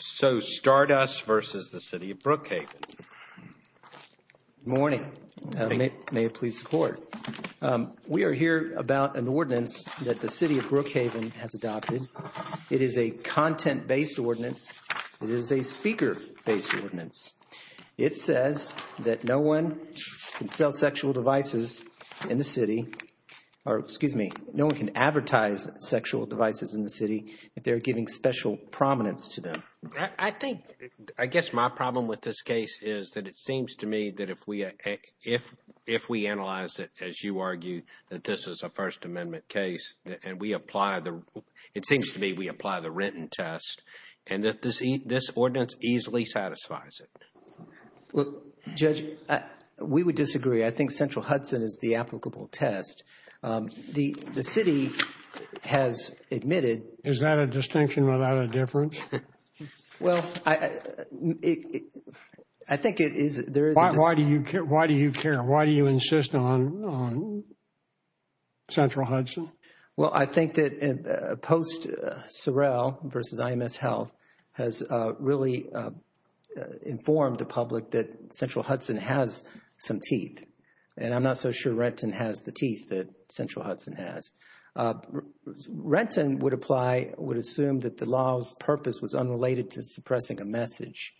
So Stardust versus the City of Brookhaven. Good morning. May it please the Court. We are here about an ordinance that the City of Brookhaven has adopted. It is a content-based ordinance. It is a speaker-based ordinance. It says that no one can sell sexual devices in the city or, excuse me, no one can advertise sexual devices in the city if they're giving special prominence to them. I think, I guess my problem with this case is that it seems to me that if we analyze it, as you argue, that this is a First Amendment case, and we apply the, it seems to me we apply the Renton test, and that this ordinance easily satisfies it. Well, Judge, we would disagree. I think Central Hudson is the applicable test. The city has admitted Is that a distinction without a difference? Well, I think it is. Why do you care? Why do you insist on Central Hudson? Well, I think that post Sorrell versus IMS Health has really informed the public that Central Hudson has some teeth. And I'm not so sure Renton has the teeth that Central Hudson has. Renton would apply, would assume that the law's purpose was unrelated to suppressing a message.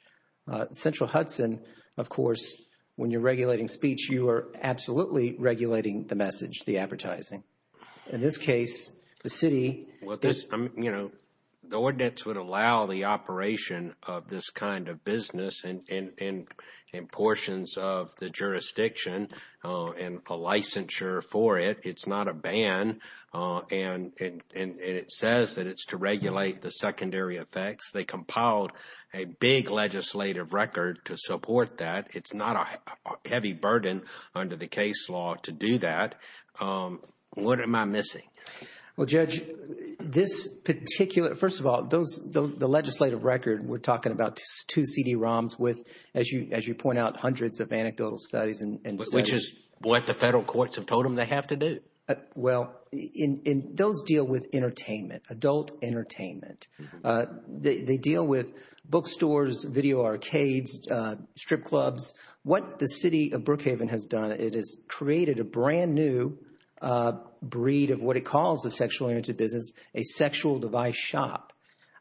Central Hudson, of course, when you're regulating speech, you are absolutely regulating the message, the advertising. In this case, the city The ordinance would allow the operation of this kind of business in portions of the jurisdiction and a licensure for it. It's not a ban, and it says that it's to regulate the secondary effects. They compiled a big legislative record to support that. It's not a heavy burden under the case law to do that. What am I missing? Well, Judge, this particular first of all, those the legislative record. We're talking about two CD-ROMs with, as you as you point out, hundreds of anecdotal studies. And which is what the federal courts have told them they have to do. Well, in those deal with entertainment, adult entertainment. They deal with bookstores, video arcades, strip clubs. What the city of Brookhaven has done, it has created a brand new breed of what it calls the sexual entertainment business, a sexual device shop.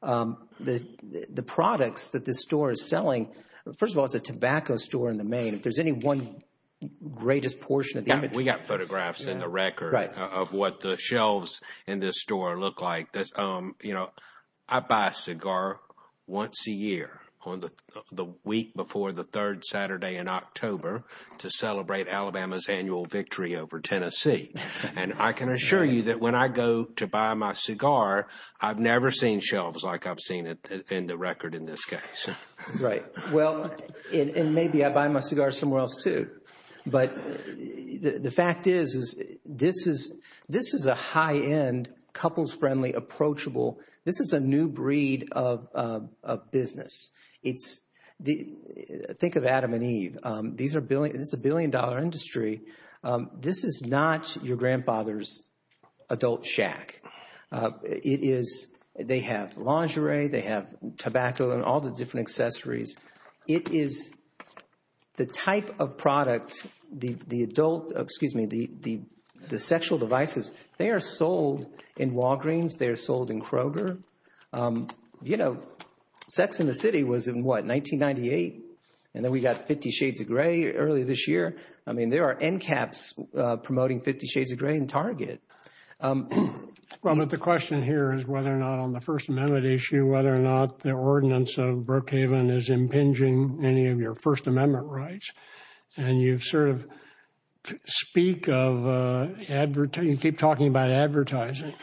The products that this store is selling, first of all, it's a tobacco store in the main. If there's any one greatest portion of the inventory. We got photographs in the record of what the shelves in this store look like. I buy a cigar once a year on the week before the third Saturday in October to celebrate Alabama's annual victory over Tennessee. And I can assure you that when I go to buy my cigar, I've never seen shelves like I've seen in the record in this case. Right. Well, and maybe I buy my cigar somewhere else too. But the fact is, is this is this is a high end, couples friendly, approachable. This is a new breed of business. It's the think of Adam and Eve. These are billions. It's a billion dollar industry. This is not your grandfather's adult shack. It is. They have lingerie. They have tobacco and all the different accessories. It is the type of product, the adult, excuse me, the the sexual devices. They are sold in Walgreens. They are sold in Kroger. You know, Sex and the City was in what, 1998? And then we got Fifty Shades of Grey earlier this year. I mean, there are end caps promoting Fifty Shades of Grey in Target. Well, but the question here is whether or not on the First Amendment issue, whether or not the ordinance of Brookhaven is impinging any of your First Amendment rights. And you sort of speak of advertising. You keep talking about advertising,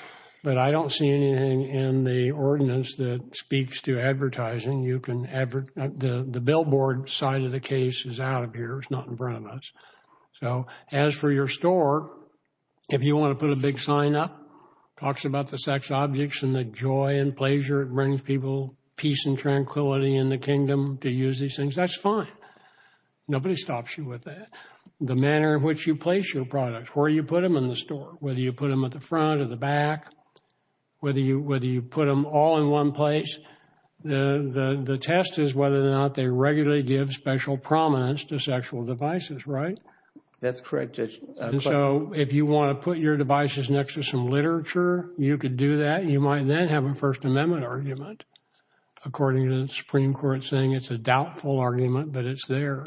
but I don't see anything in the ordinance that speaks to advertising. You can advert the billboard side of the case is out of here. It's not in front of us. So as for your store, if you want to put a big sign up, talks about the sex objects and the joy and pleasure, it brings people peace and tranquility in the kingdom to use these things. That's fine. Nobody stops you with that. The manner in which you place your products, where you put them in the store, whether you put them at the front or the back, whether you put them all in one place. The test is whether or not they regularly give special prominence to sexual devices, right? That's correct. So if you want to put your devices next to some literature, you could do that. You might then have a First Amendment argument. According to the Supreme Court saying it's a doubtful argument, but it's there.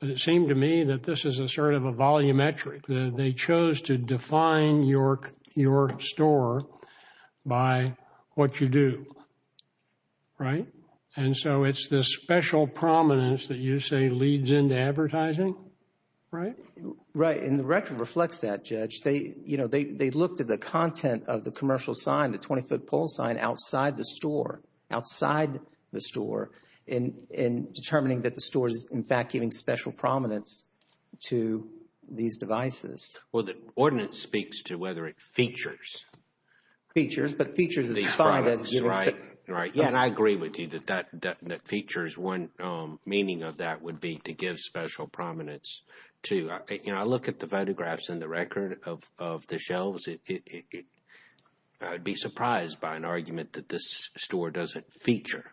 But it seemed to me that this is a sort of a volumetric. They chose to define your store by what you do, right? And so it's the special prominence that you say leads into advertising, right? Right, and the record reflects that, Judge. They looked at the content of the commercial sign, the 20-foot pole sign outside the store, in determining that the store is, in fact, giving special prominence to these devices. Well, the ordinance speaks to whether it features. Features, but features is fine as you would expect. Right, and I agree with you that features, one meaning of that would be to give special prominence to. You know, I look at the photographs in the record of the shelves. I would be surprised by an argument that this store doesn't feature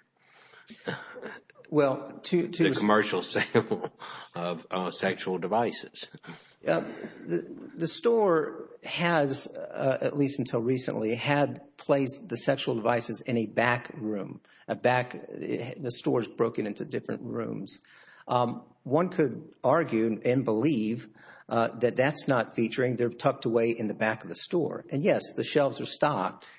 the commercial sale of sexual devices. The store has, at least until recently, had placed the sexual devices in a back room. The store is broken into different rooms. One could argue and believe that that's not featuring. They're tucked away in the back of the store. And yes, the shelves are stocked.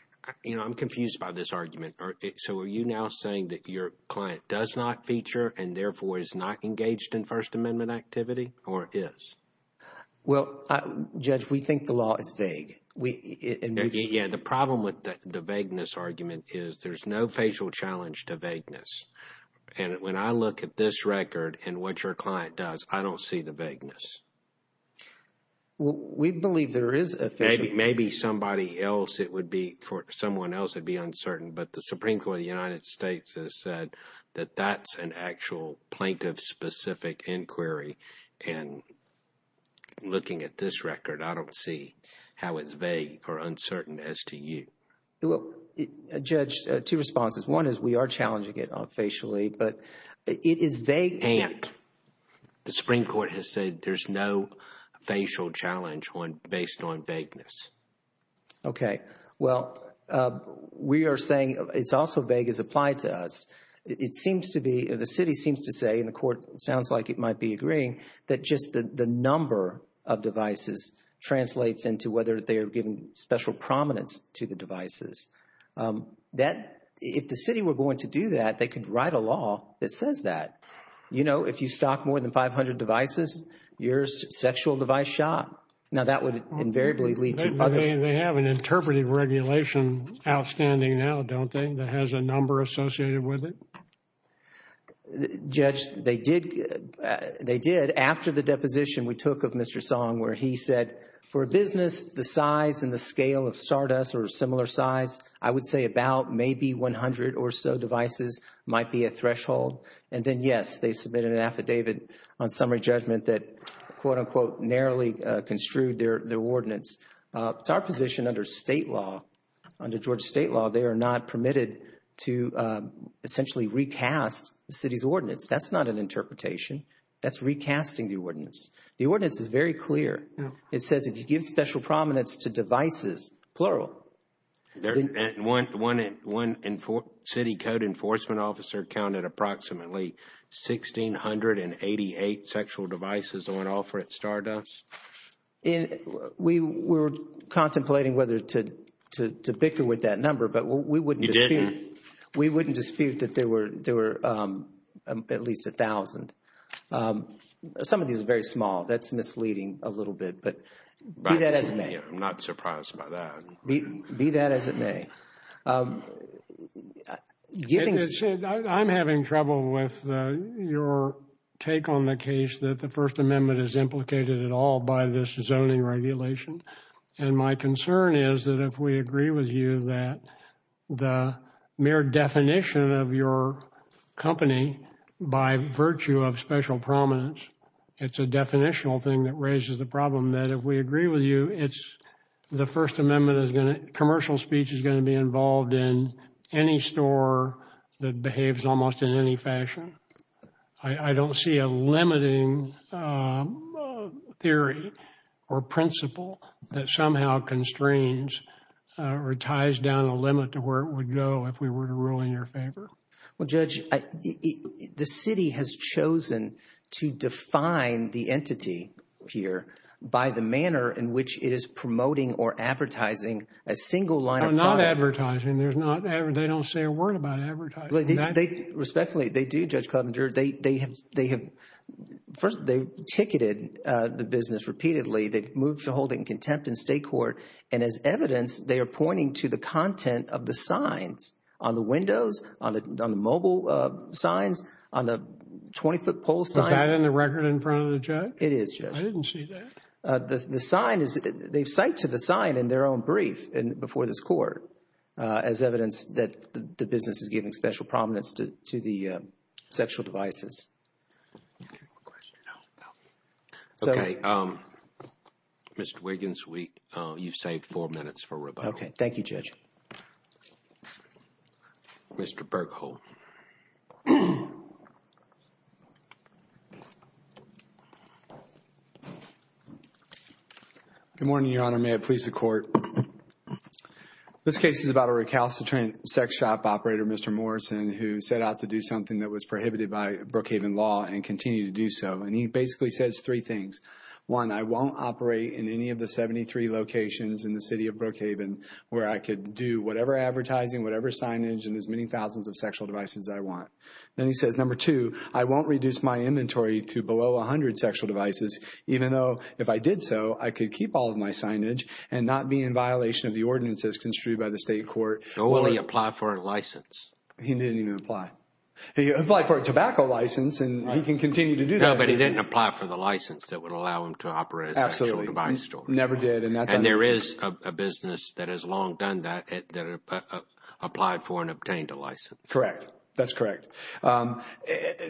You know, I'm confused by this argument. So are you now saying that your client does not feature and therefore is not engaged in First Amendment activity or is? Well, Judge, we think the law is vague. Yeah, the problem with the vagueness argument is there's no facial challenge to vagueness. And when I look at this record and what your client does, I don't see the vagueness. Well, we believe there is a facial. Maybe somebody else, it would be for someone else, it would be uncertain. But the Supreme Court of the United States has said that that's an actual plaintiff-specific inquiry. And looking at this record, I don't see how it's vague or uncertain as to you. Well, Judge, two responses. One is we are challenging it on facially, but it is vague. And the Supreme Court has said there's no facial challenge based on vagueness. Okay. Well, we are saying it's also vague as applied to us. It seems to be, the city seems to say, and the court sounds like it might be agreeing, that just the number of devices translates into whether they are giving special prominence to the devices. That, if the city were going to do that, they could write a law that says that. You know, if you stock more than 500 devices, your sexual device shot. Now, that would invariably lead to other. They have an interpretive regulation outstanding now, don't they, that has a number associated with it? Judge, they did. After the deposition we took of Mr. Song, where he said, for a business, the size and the scale of SARDAS or a similar size, I would say about maybe 100 or so devices might be a threshold. And then, yes, they submitted an affidavit on summary judgment that, quote-unquote, narrowly construed their ordinance. It's our position under state law, under Georgia state law, they are not permitted to essentially recast the city's ordinance. That's not an interpretation. That's recasting the ordinance. The ordinance is very clear. It says if you give special prominence to devices, plural. One city code enforcement officer counted approximately 1,688 sexual devices on offer at SARDAS. We were contemplating whether to bicker with that number, but we wouldn't dispute. We wouldn't dispute that there were at least 1,000. Some of these are very small. That's misleading a little bit, but be that as it may. I'm not surprised by that. Be that as it may. I'm having trouble with your take on the case that the First Amendment is implicated at all by this zoning regulation. And my concern is that if we agree with you that the mere definition of your company by virtue of special prominence, it's a definitional thing that raises the problem, that if we agree with you, the First Amendment, commercial speech is going to be involved in any store that behaves almost in any fashion. I don't see a limiting theory or principle that somehow constrains or ties down a limit to where it would go if we were to rule in your favor. Well, Judge, the city has chosen to define the entity here by the manner in which it is promoting or advertising a single line of product. Not advertising. They don't say a word about advertising. Respectfully, they do, Judge Clubbinger. First, they ticketed the business repeatedly. They moved to hold it in contempt in state court, and as evidence, they are pointing to the content of the signs on the windows, on the mobile signs, on the 20-foot pole signs. Is that in the record in front of the judge? It is, Judge. I didn't see that. The sign is, they cite to the sign in their own brief before this court as evidence that the business is giving special prominence to the sexual devices. Okay. No, no. Okay. Mr. Wiggins, you've saved four minutes for rebuttal. Okay. Thank you, Judge. Mr. Berkholdt. Good morning, Your Honor. May it please the Court. This case is about a recalcitrant sex shop operator, Mr. Morrison, who set out to do something that was prohibited by Brookhaven law and continue to do so. And he basically says three things. One, I won't operate in any of the 73 locations in the city of Brookhaven where I could do whatever advertising, whatever signage, and as many thousands of sexual devices as I want. Then he says, number two, I won't reduce my inventory to below 100 sexual devices, even though if I did so, I could keep all of my signage and not be in violation of the ordinances construed by the state court. So will he apply for a license? He didn't even apply. He applied for a tobacco license, and he can continue to do that. No, but he didn't apply for the license that would allow him to operate a sexual device store. Absolutely. Never did. And there is a business that has long done that, that applied for and obtained a license. Correct. That's correct.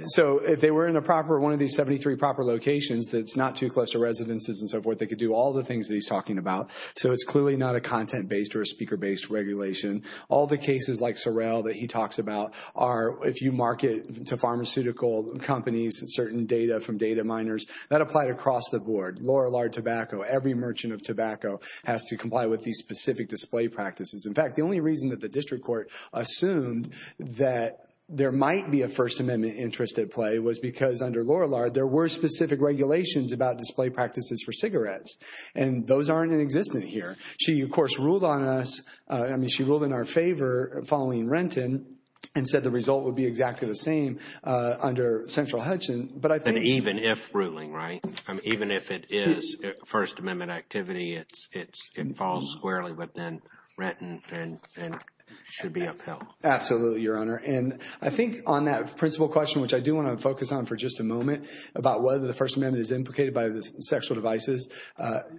So if they were in a proper, one of these 73 proper locations that's not too close to residences and so forth, they could do all the things that he's talking about. So it's clearly not a content-based or a speaker-based regulation. All the cases like Sorrell that he talks about are if you market to pharmaceutical companies and certain data from data miners, that applied across the board. Lorillard tobacco, every merchant of tobacco has to comply with these specific display practices. In fact, the only reason that the district court assumed that there might be a First Amendment interest at play was because under Lorillard there were specific regulations about display practices for cigarettes, and those aren't in existence here. She, of course, ruled on us. I mean, she ruled in our favor following Renton and said the result would be exactly the same under central Hudson, but I think. And even if ruling, right? Even if it is First Amendment activity, it falls squarely, but then Renton should be upheld. Absolutely, Your Honor. And I think on that principal question, which I do want to focus on for just a moment, about whether the First Amendment is implicated by the sexual devices,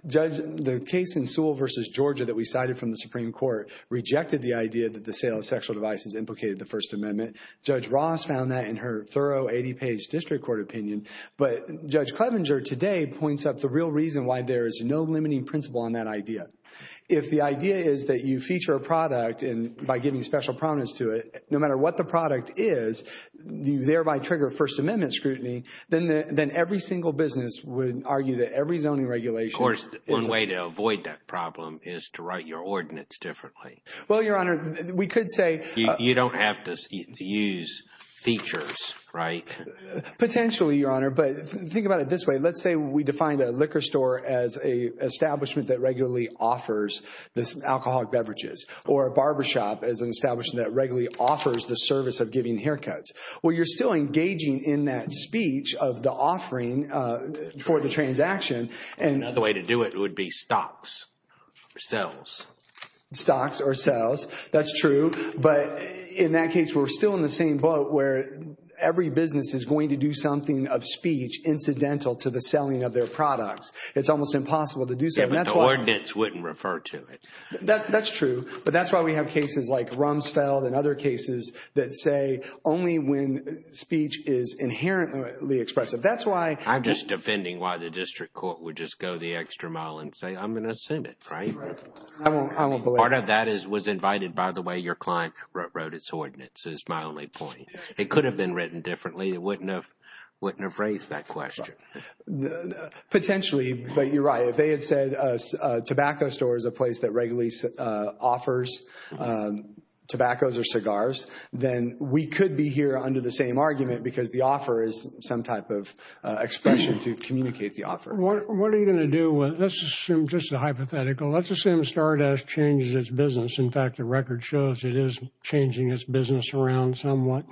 Judge, the case in Sewell v. Georgia that we cited from the Supreme Court rejected the idea that the sale of sexual devices implicated the First Amendment. Judge Ross found that in her thorough 80-page district court opinion, but Judge Clevenger today points out the real reason why there is no limiting principle on that idea. If the idea is that you feature a product by giving special prominence to it, no matter what the product is, you thereby trigger First Amendment scrutiny, then every single business would argue that every zoning regulation. Of course, one way to avoid that problem is to write your ordinance differently. Well, Your Honor, we could say. You don't have to use features, right? Potentially, Your Honor, but think about it this way. Let's say we define a liquor store as an establishment that regularly offers alcoholic beverages or a barbershop as an establishment that regularly offers the service of giving haircuts. Well, you're still engaging in that speech of the offering for the transaction. Another way to do it would be stocks or sales. Stocks or sales, that's true. But in that case, we're still in the same boat where every business is going to do something of speech incidental to the selling of their products. It's almost impossible to do so. Yeah, but the ordinance wouldn't refer to it. That's true, but that's why we have cases like Rumsfeld and other cases that say only when speech is inherently expressive. I'm just defending why the district court would just go the extra mile and say, I'm going to assume it, right? I won't believe it. Part of that was invited by the way your client wrote its ordinance is my only point. It could have been written differently. It wouldn't have raised that question. Potentially, but you're right. If they had said a tobacco store is a place that regularly offers tobaccos or cigars, then we could be here under the same argument because the offer is some type of expression to communicate the offer. What are you going to do? Let's assume just a hypothetical. Let's assume Stardust changes its business. In fact, the record shows it is changing its business around somewhat.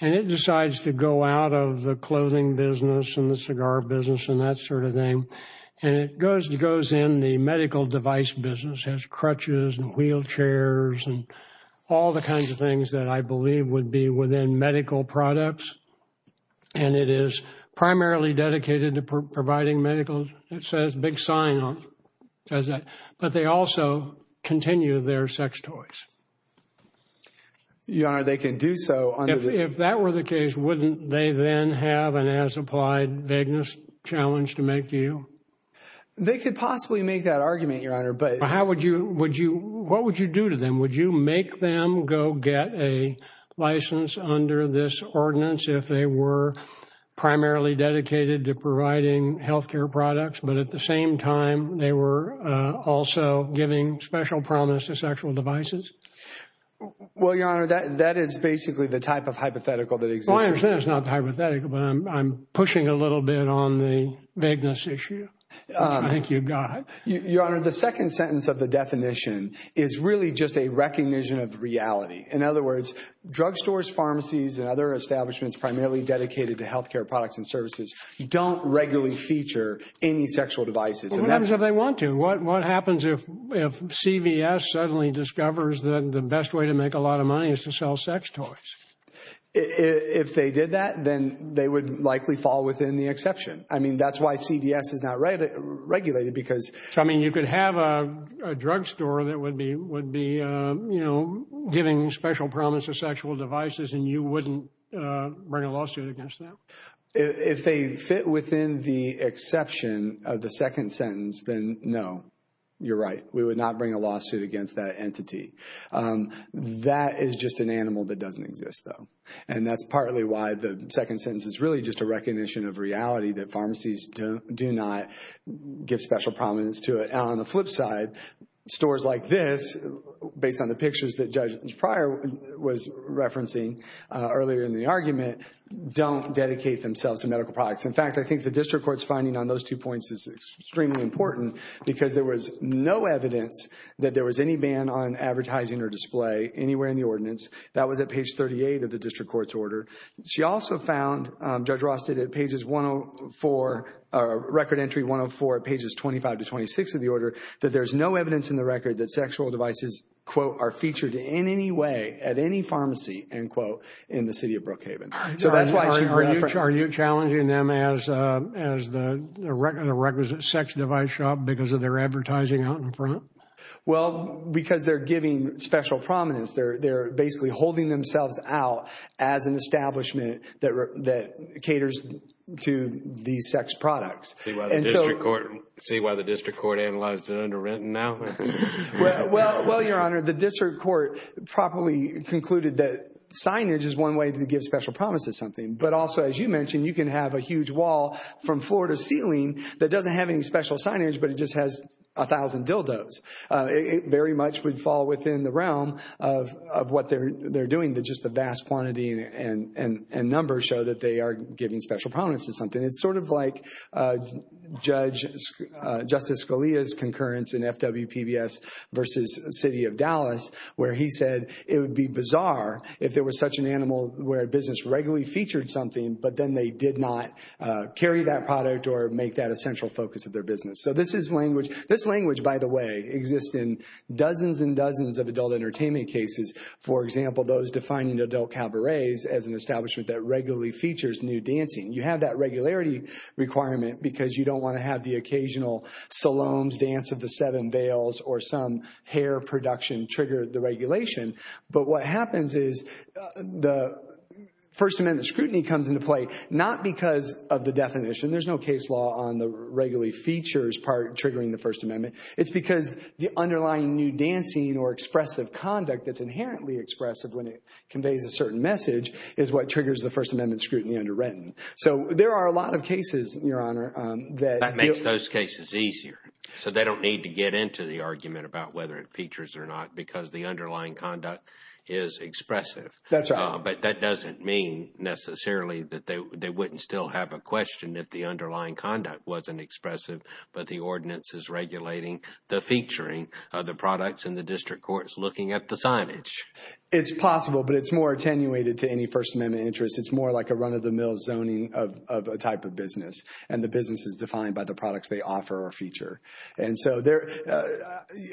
And it decides to go out of the clothing business and the cigar business and that sort of thing. And it goes in the medical device business, has crutches and wheelchairs and all the kinds of things that I believe would be within medical products. And it is primarily dedicated to providing medical. It says big sign on it. But they also continue their sex toys. Your Honor, they can do so. If that were the case, wouldn't they then have an as applied vagueness challenge to make to you? They could possibly make that argument, Your Honor. But how would you, would you, what would you do to them? Would you make them go get a license under this ordinance if they were primarily dedicated to providing health care products, but at the same time they were also giving special promise to sexual devices? Well, Your Honor, that that is basically the type of hypothetical that exists. It's not hypothetical, but I'm pushing a little bit on the vagueness issue. Thank you, God. Your Honor, the second sentence of the definition is really just a recognition of reality. In other words, drugstores, pharmacies and other establishments primarily dedicated to health care products and services don't regularly feature any sexual devices. What happens if they want to? What happens if CVS suddenly discovers that the best way to make a lot of money is to sell sex toys? If they did that, then they would likely fall within the exception. I mean, that's why CVS is not regulated because. I mean, you could have a drugstore that would be, would be, you know, giving special promise to sexual devices and you wouldn't bring a lawsuit against that. If they fit within the exception of the second sentence, then no, you're right. We would not bring a lawsuit against that entity. That is just an animal that doesn't exist, though. And that's partly why the second sentence is really just a recognition of reality that pharmacies do not give special prominence to it. On the flip side, stores like this, based on the pictures that Judge Pryor was referencing earlier in the argument, don't dedicate themselves to medical products. In fact, I think the district court's finding on those two points is extremely important because there was no evidence that there was any ban on advertising or display anywhere in the ordinance. That was at page 38 of the district court's order. She also found, Judge Ross did at pages 104, record entry 104, pages 25 to 26 of the order, that there's no evidence in the record that sexual devices, quote, are featured in any way at any pharmacy, end quote, in the city of Brookhaven. Are you challenging them as the requisite sex device shop because of their advertising out in front? Well, because they're giving special prominence. They're basically holding themselves out as an establishment that caters to these sex products. See why the district court analyzed it underwritten now? Well, Your Honor, the district court properly concluded that signage is one way to give special promise to something. But also, as you mentioned, you can have a huge wall from floor to ceiling that doesn't have any special signage, but it just has a thousand dildos. It very much would fall within the realm of what they're doing. Just the vast quantity and numbers show that they are giving special prominence to something. And it's sort of like Justice Scalia's concurrence in FWPBS versus City of Dallas, where he said it would be bizarre if it was such an animal where a business regularly featured something, but then they did not carry that product or make that a central focus of their business. So this language, by the way, exists in dozens and dozens of adult entertainment cases. For example, those defining adult cabarets as an establishment that regularly features new dancing. You have that regularity requirement because you don't want to have the occasional Salome's Dance of the Seven Veils or some hair production trigger the regulation. But what happens is the First Amendment scrutiny comes into play not because of the definition. There's no case law on the regularly features part triggering the First Amendment. It's because the underlying new dancing or expressive conduct that's inherently expressive when it conveys a certain message is what triggers the First Amendment scrutiny underwritten. So there are a lot of cases, Your Honor, that… That makes those cases easier. So they don't need to get into the argument about whether it features or not because the underlying conduct is expressive. That's right. But that doesn't mean necessarily that they wouldn't still have a question if the underlying conduct wasn't expressive, but the ordinance is regulating the featuring of the products in the district courts looking at the signage. It's possible, but it's more attenuated to any First Amendment interest. It's more like a run-of-the-mill zoning of a type of business, and the business is defined by the products they offer or feature. And so there…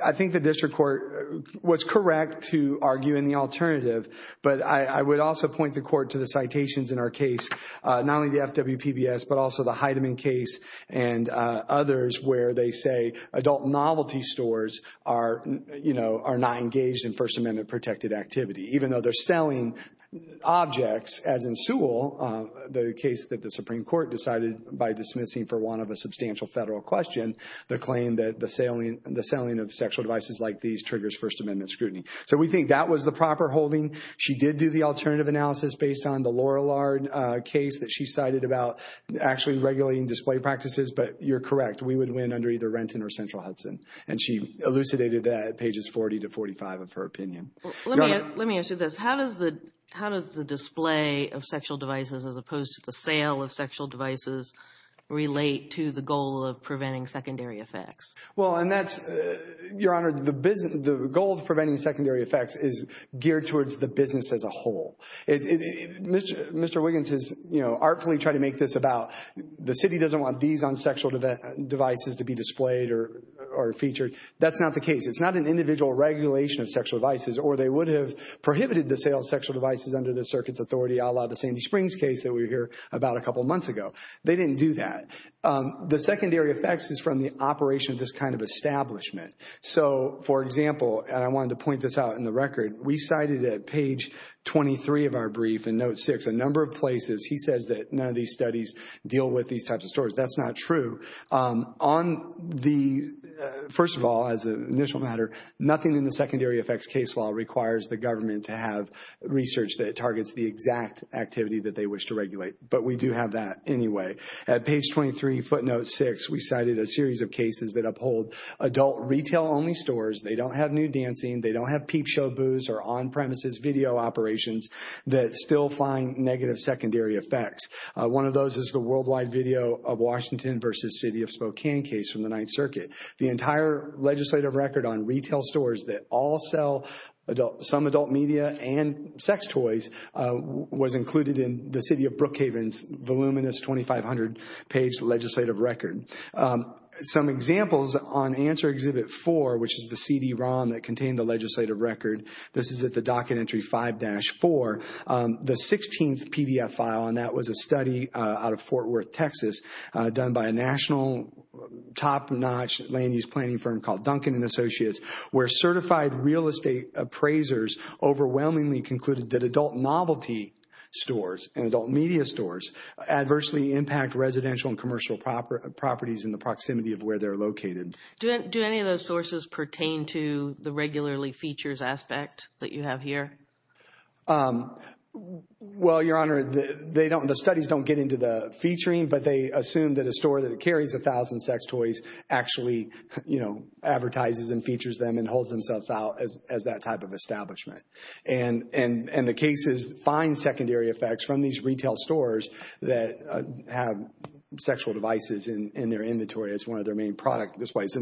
I think the district court was correct to argue in the alternative, but I would also point the court to the citations in our case, not only the FWPBS but also the Heidemann case and others where they say adult novelty stores are, you know, are not engaged in First Amendment protected activity. Even though they're selling objects, as in Sewell, the case that the Supreme Court decided by dismissing for one of a substantial federal question the claim that the selling of sexual devices like these triggers First Amendment scrutiny. So we think that was the proper holding. She did do the alternative analysis based on the Lorillard case that she cited about actually regulating display practices, but you're correct. We would win under either Renton or Central Hudson, and she elucidated that at pages 40 to 45 of her opinion. Let me ask you this. How does the display of sexual devices as opposed to the sale of sexual devices relate to the goal of preventing secondary effects? Well, and that's… Your Honor, the goal of preventing secondary effects is geared towards the business as a whole. Mr. Wiggins has, you know, artfully tried to make this about the city doesn't want these on sexual devices to be displayed or featured. That's not the case. It's not an individual regulation of sexual devices, or they would have prohibited the sale of sexual devices under the circuit's authority, a la the Sandy Springs case that we hear about a couple months ago. They didn't do that. The secondary effects is from the operation of this kind of establishment. So, for example, and I wanted to point this out in the record, we cited at page 23 of our brief in note six a number of places. He says that none of these studies deal with these types of stories. That's not true. On the… First of all, as an initial matter, nothing in the secondary effects case law requires the government to have research that targets the exact activity that they wish to regulate. But we do have that anyway. At page 23, footnote six, we cited a series of cases that uphold adult retail-only stores. They don't have nude dancing. They don't have peep show booze or on-premises video operations that still find negative secondary effects. One of those is the worldwide video of Washington v. City of Spokane case from the Ninth Circuit. The entire legislative record on retail stores that all sell some adult media and sex toys was included in the City of Brookhaven's voluminous 2,500-page legislative record. Some examples on Answer Exhibit 4, which is the CD-ROM that contained the legislative record. This is at the docket entry 5-4. The 16th PDF file on that was a study out of Fort Worth, Texas, done by a national top-notch land-use planning firm called Duncan & Associates, where certified real estate appraisers overwhelmingly concluded that adult novelty stores and adult media stores adversely impact residential and commercial properties in the proximity of where they're located. Do any of those sources pertain to the regularly features aspect that you have here? Well, Your Honor, the studies don't get into the featuring, but they assume that a store that carries 1,000 sex toys actually advertises and features them and holds themselves out as that type of establishment. And the cases find secondary effects from these retail stores that have sexual devices in their inventory as one of their main product displays.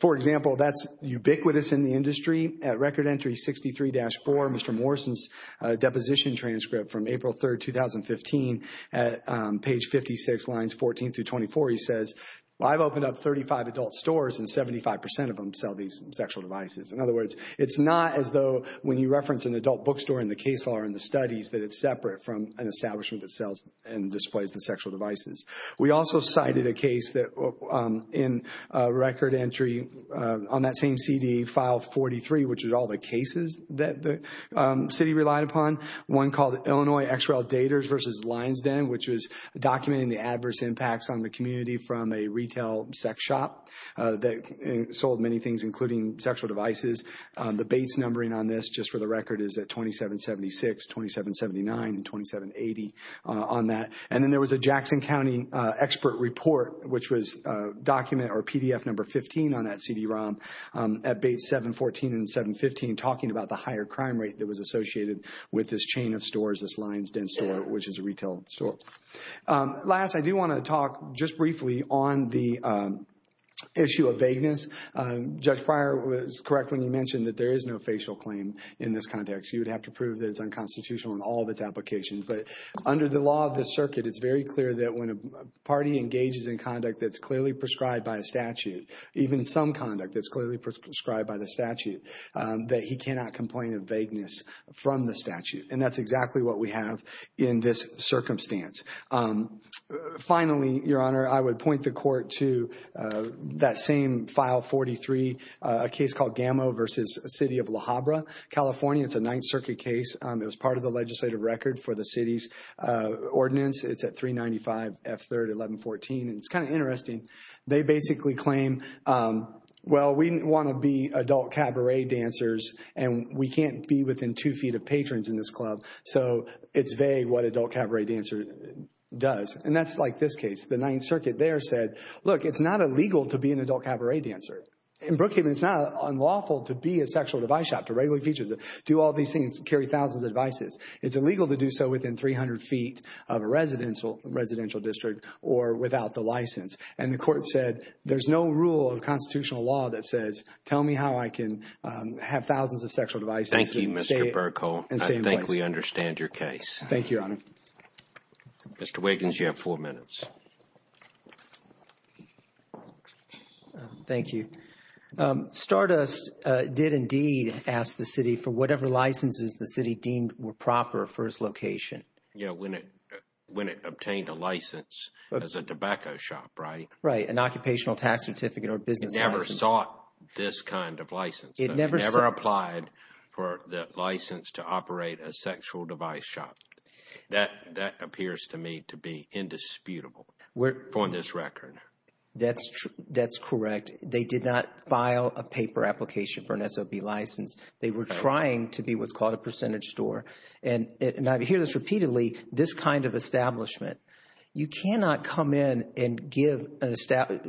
For example, that's ubiquitous in the industry. At record entry 63-4, Mr. Morrison's deposition transcript from April 3, 2015, at page 56, lines 14 through 24, he says, I've opened up 35 adult stores and 75% of them sell these sexual devices. In other words, it's not as though when you reference an adult bookstore in the case law or in the studies that it's separate from an establishment that sells and displays the sexual devices. We also cited a case that in record entry on that same CD, file 43, which is all the cases that the city relied upon, one called Illinois XREL Daters versus Lines Den, which was documenting the adverse impacts on the community from a retail sex shop that sold many things, including sexual devices. The Bates numbering on this, just for the record, is at 2776, 2779, and 2780 on that. And then there was a Jackson County expert report, which was document or PDF number 15 on that CD-ROM, at Bates 714 and 715, talking about the higher crime rate that was associated with this chain of stores, this Lines Den store, which is a retail store. Last, I do want to talk just briefly on the issue of vagueness. Judge Pryor was correct when he mentioned that there is no facial claim in this context. You would have to prove that it's unconstitutional in all of its applications. But under the law of the circuit, it's very clear that when a party engages in conduct that's clearly prescribed by a statute, even some conduct that's clearly prescribed by the statute, that he cannot complain of vagueness from the statute. And that's exactly what we have in this circumstance. Finally, Your Honor, I would point the court to that same file 43, a case called Gamo versus City of La Habra, California. It's a Ninth Circuit case. It was part of the legislative record for the city's ordinance. It's at 395 F. 3rd, 1114. And it's kind of interesting. They basically claim, well, we want to be adult cabaret dancers, and we can't be within two feet of patrons in this club. So it's vague what adult cabaret dancer does. And that's like this case. The Ninth Circuit there said, look, it's not illegal to be an adult cabaret dancer. In Brookhaven, it's not unlawful to be a sexual device shop, to regularly feature, to do all these things, carry thousands of devices. It's illegal to do so within 300 feet of a residential district or without the license. And the court said there's no rule of constitutional law that says tell me how I can have thousands of sexual devices. Thank you, Mr. Bercow. I think we understand your case. Thank you, Your Honor. Mr. Wiggins, you have four minutes. Thank you. Stardust did indeed ask the city for whatever licenses the city deemed were proper for its location. Yeah, when it obtained a license as a tobacco shop, right? Right, an occupational tax certificate or business license. It never sought this kind of license. It never applied for the license to operate a sexual device shop. That appears to me to be indisputable from this record. That's correct. They did not file a paper application for an SOB license. They were trying to be what's called a percentage store. And I hear this repeatedly, this kind of establishment. You cannot come in and give a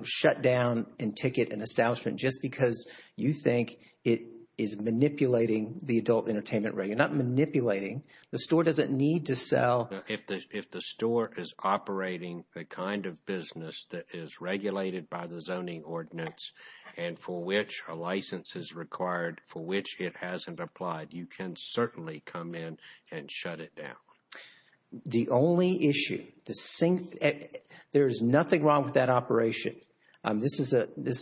shutdown and ticket an establishment just because you think it is manipulating the adult entertainment. You're not manipulating. The store doesn't need to sell. If the store is operating the kind of business that is regulated by the zoning ordinance and for which a license is required, for which it hasn't applied, you can certainly come in and shut it down. The only issue, there is nothing wrong with that operation. This is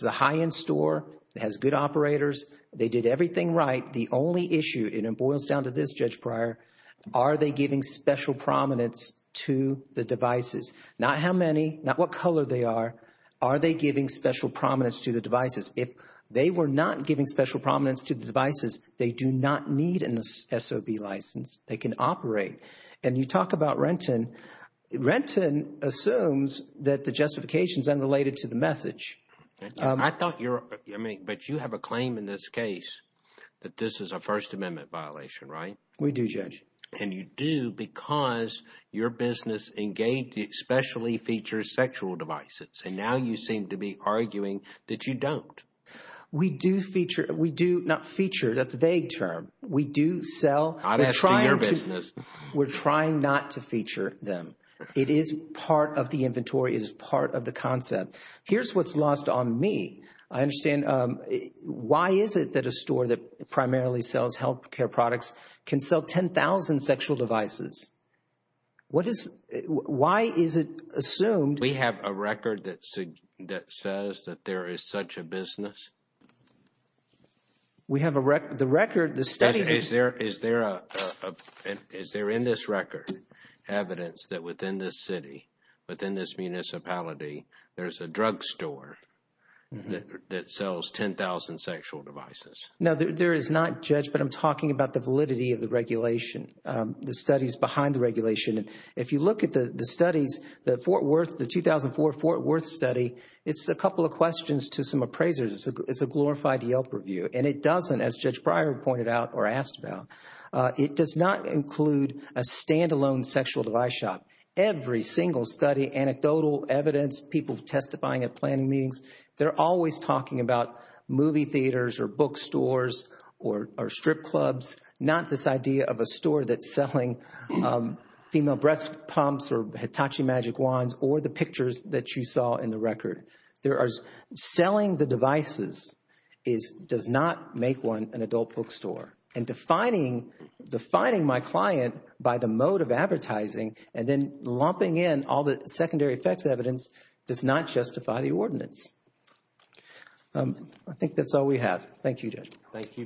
a high-end store. It has good operators. They did everything right. The only issue, and it boils down to this, Judge Breyer, are they giving special prominence to the devices? Not how many, not what color they are. Are they giving special prominence to the devices? If they were not giving special prominence to the devices, they do not need an SOB license. They can operate. And you talk about Renton. Renton assumes that the justification is unrelated to the message. I thought you're – but you have a claim in this case that this is a First Amendment violation, right? We do, Judge. And you do because your business engaged – specially features sexual devices. And now you seem to be arguing that you don't. We do feature – we do not feature. That's a vague term. We do sell. I've asked you your business. We're trying not to feature them. It is part of the inventory. It is part of the concept. Here's what's lost on me. I understand – why is it that a store that primarily sells health care products can sell 10,000 sexual devices? What is – why is it assumed – We have a record that says that there is such a business. We have a – the record, the study – Is there in this record evidence that within this city, within this municipality, there's a drugstore that sells 10,000 sexual devices? No, there is not, Judge, but I'm talking about the validity of the regulation, the studies behind the regulation. If you look at the studies, the Fort Worth – the 2004 Fort Worth study, it's a couple of questions to some appraisers. It's a glorified Yelp review. And it doesn't, as Judge Breyer pointed out or asked about, it does not include a standalone sexual device shop. Every single study, anecdotal evidence, people testifying at planning meetings, they're always talking about movie theaters or bookstores or strip clubs, not this idea of a store that's selling female breast pumps or Hitachi Magic Wands or the pictures that you saw in the record. There are – selling the devices is – does not make one an adult bookstore. And defining my client by the mode of advertising and then lumping in all the secondary effects evidence does not justify the ordinance. I think that's all we have. Thank you, Judge. Thank you, Mr. Reagan.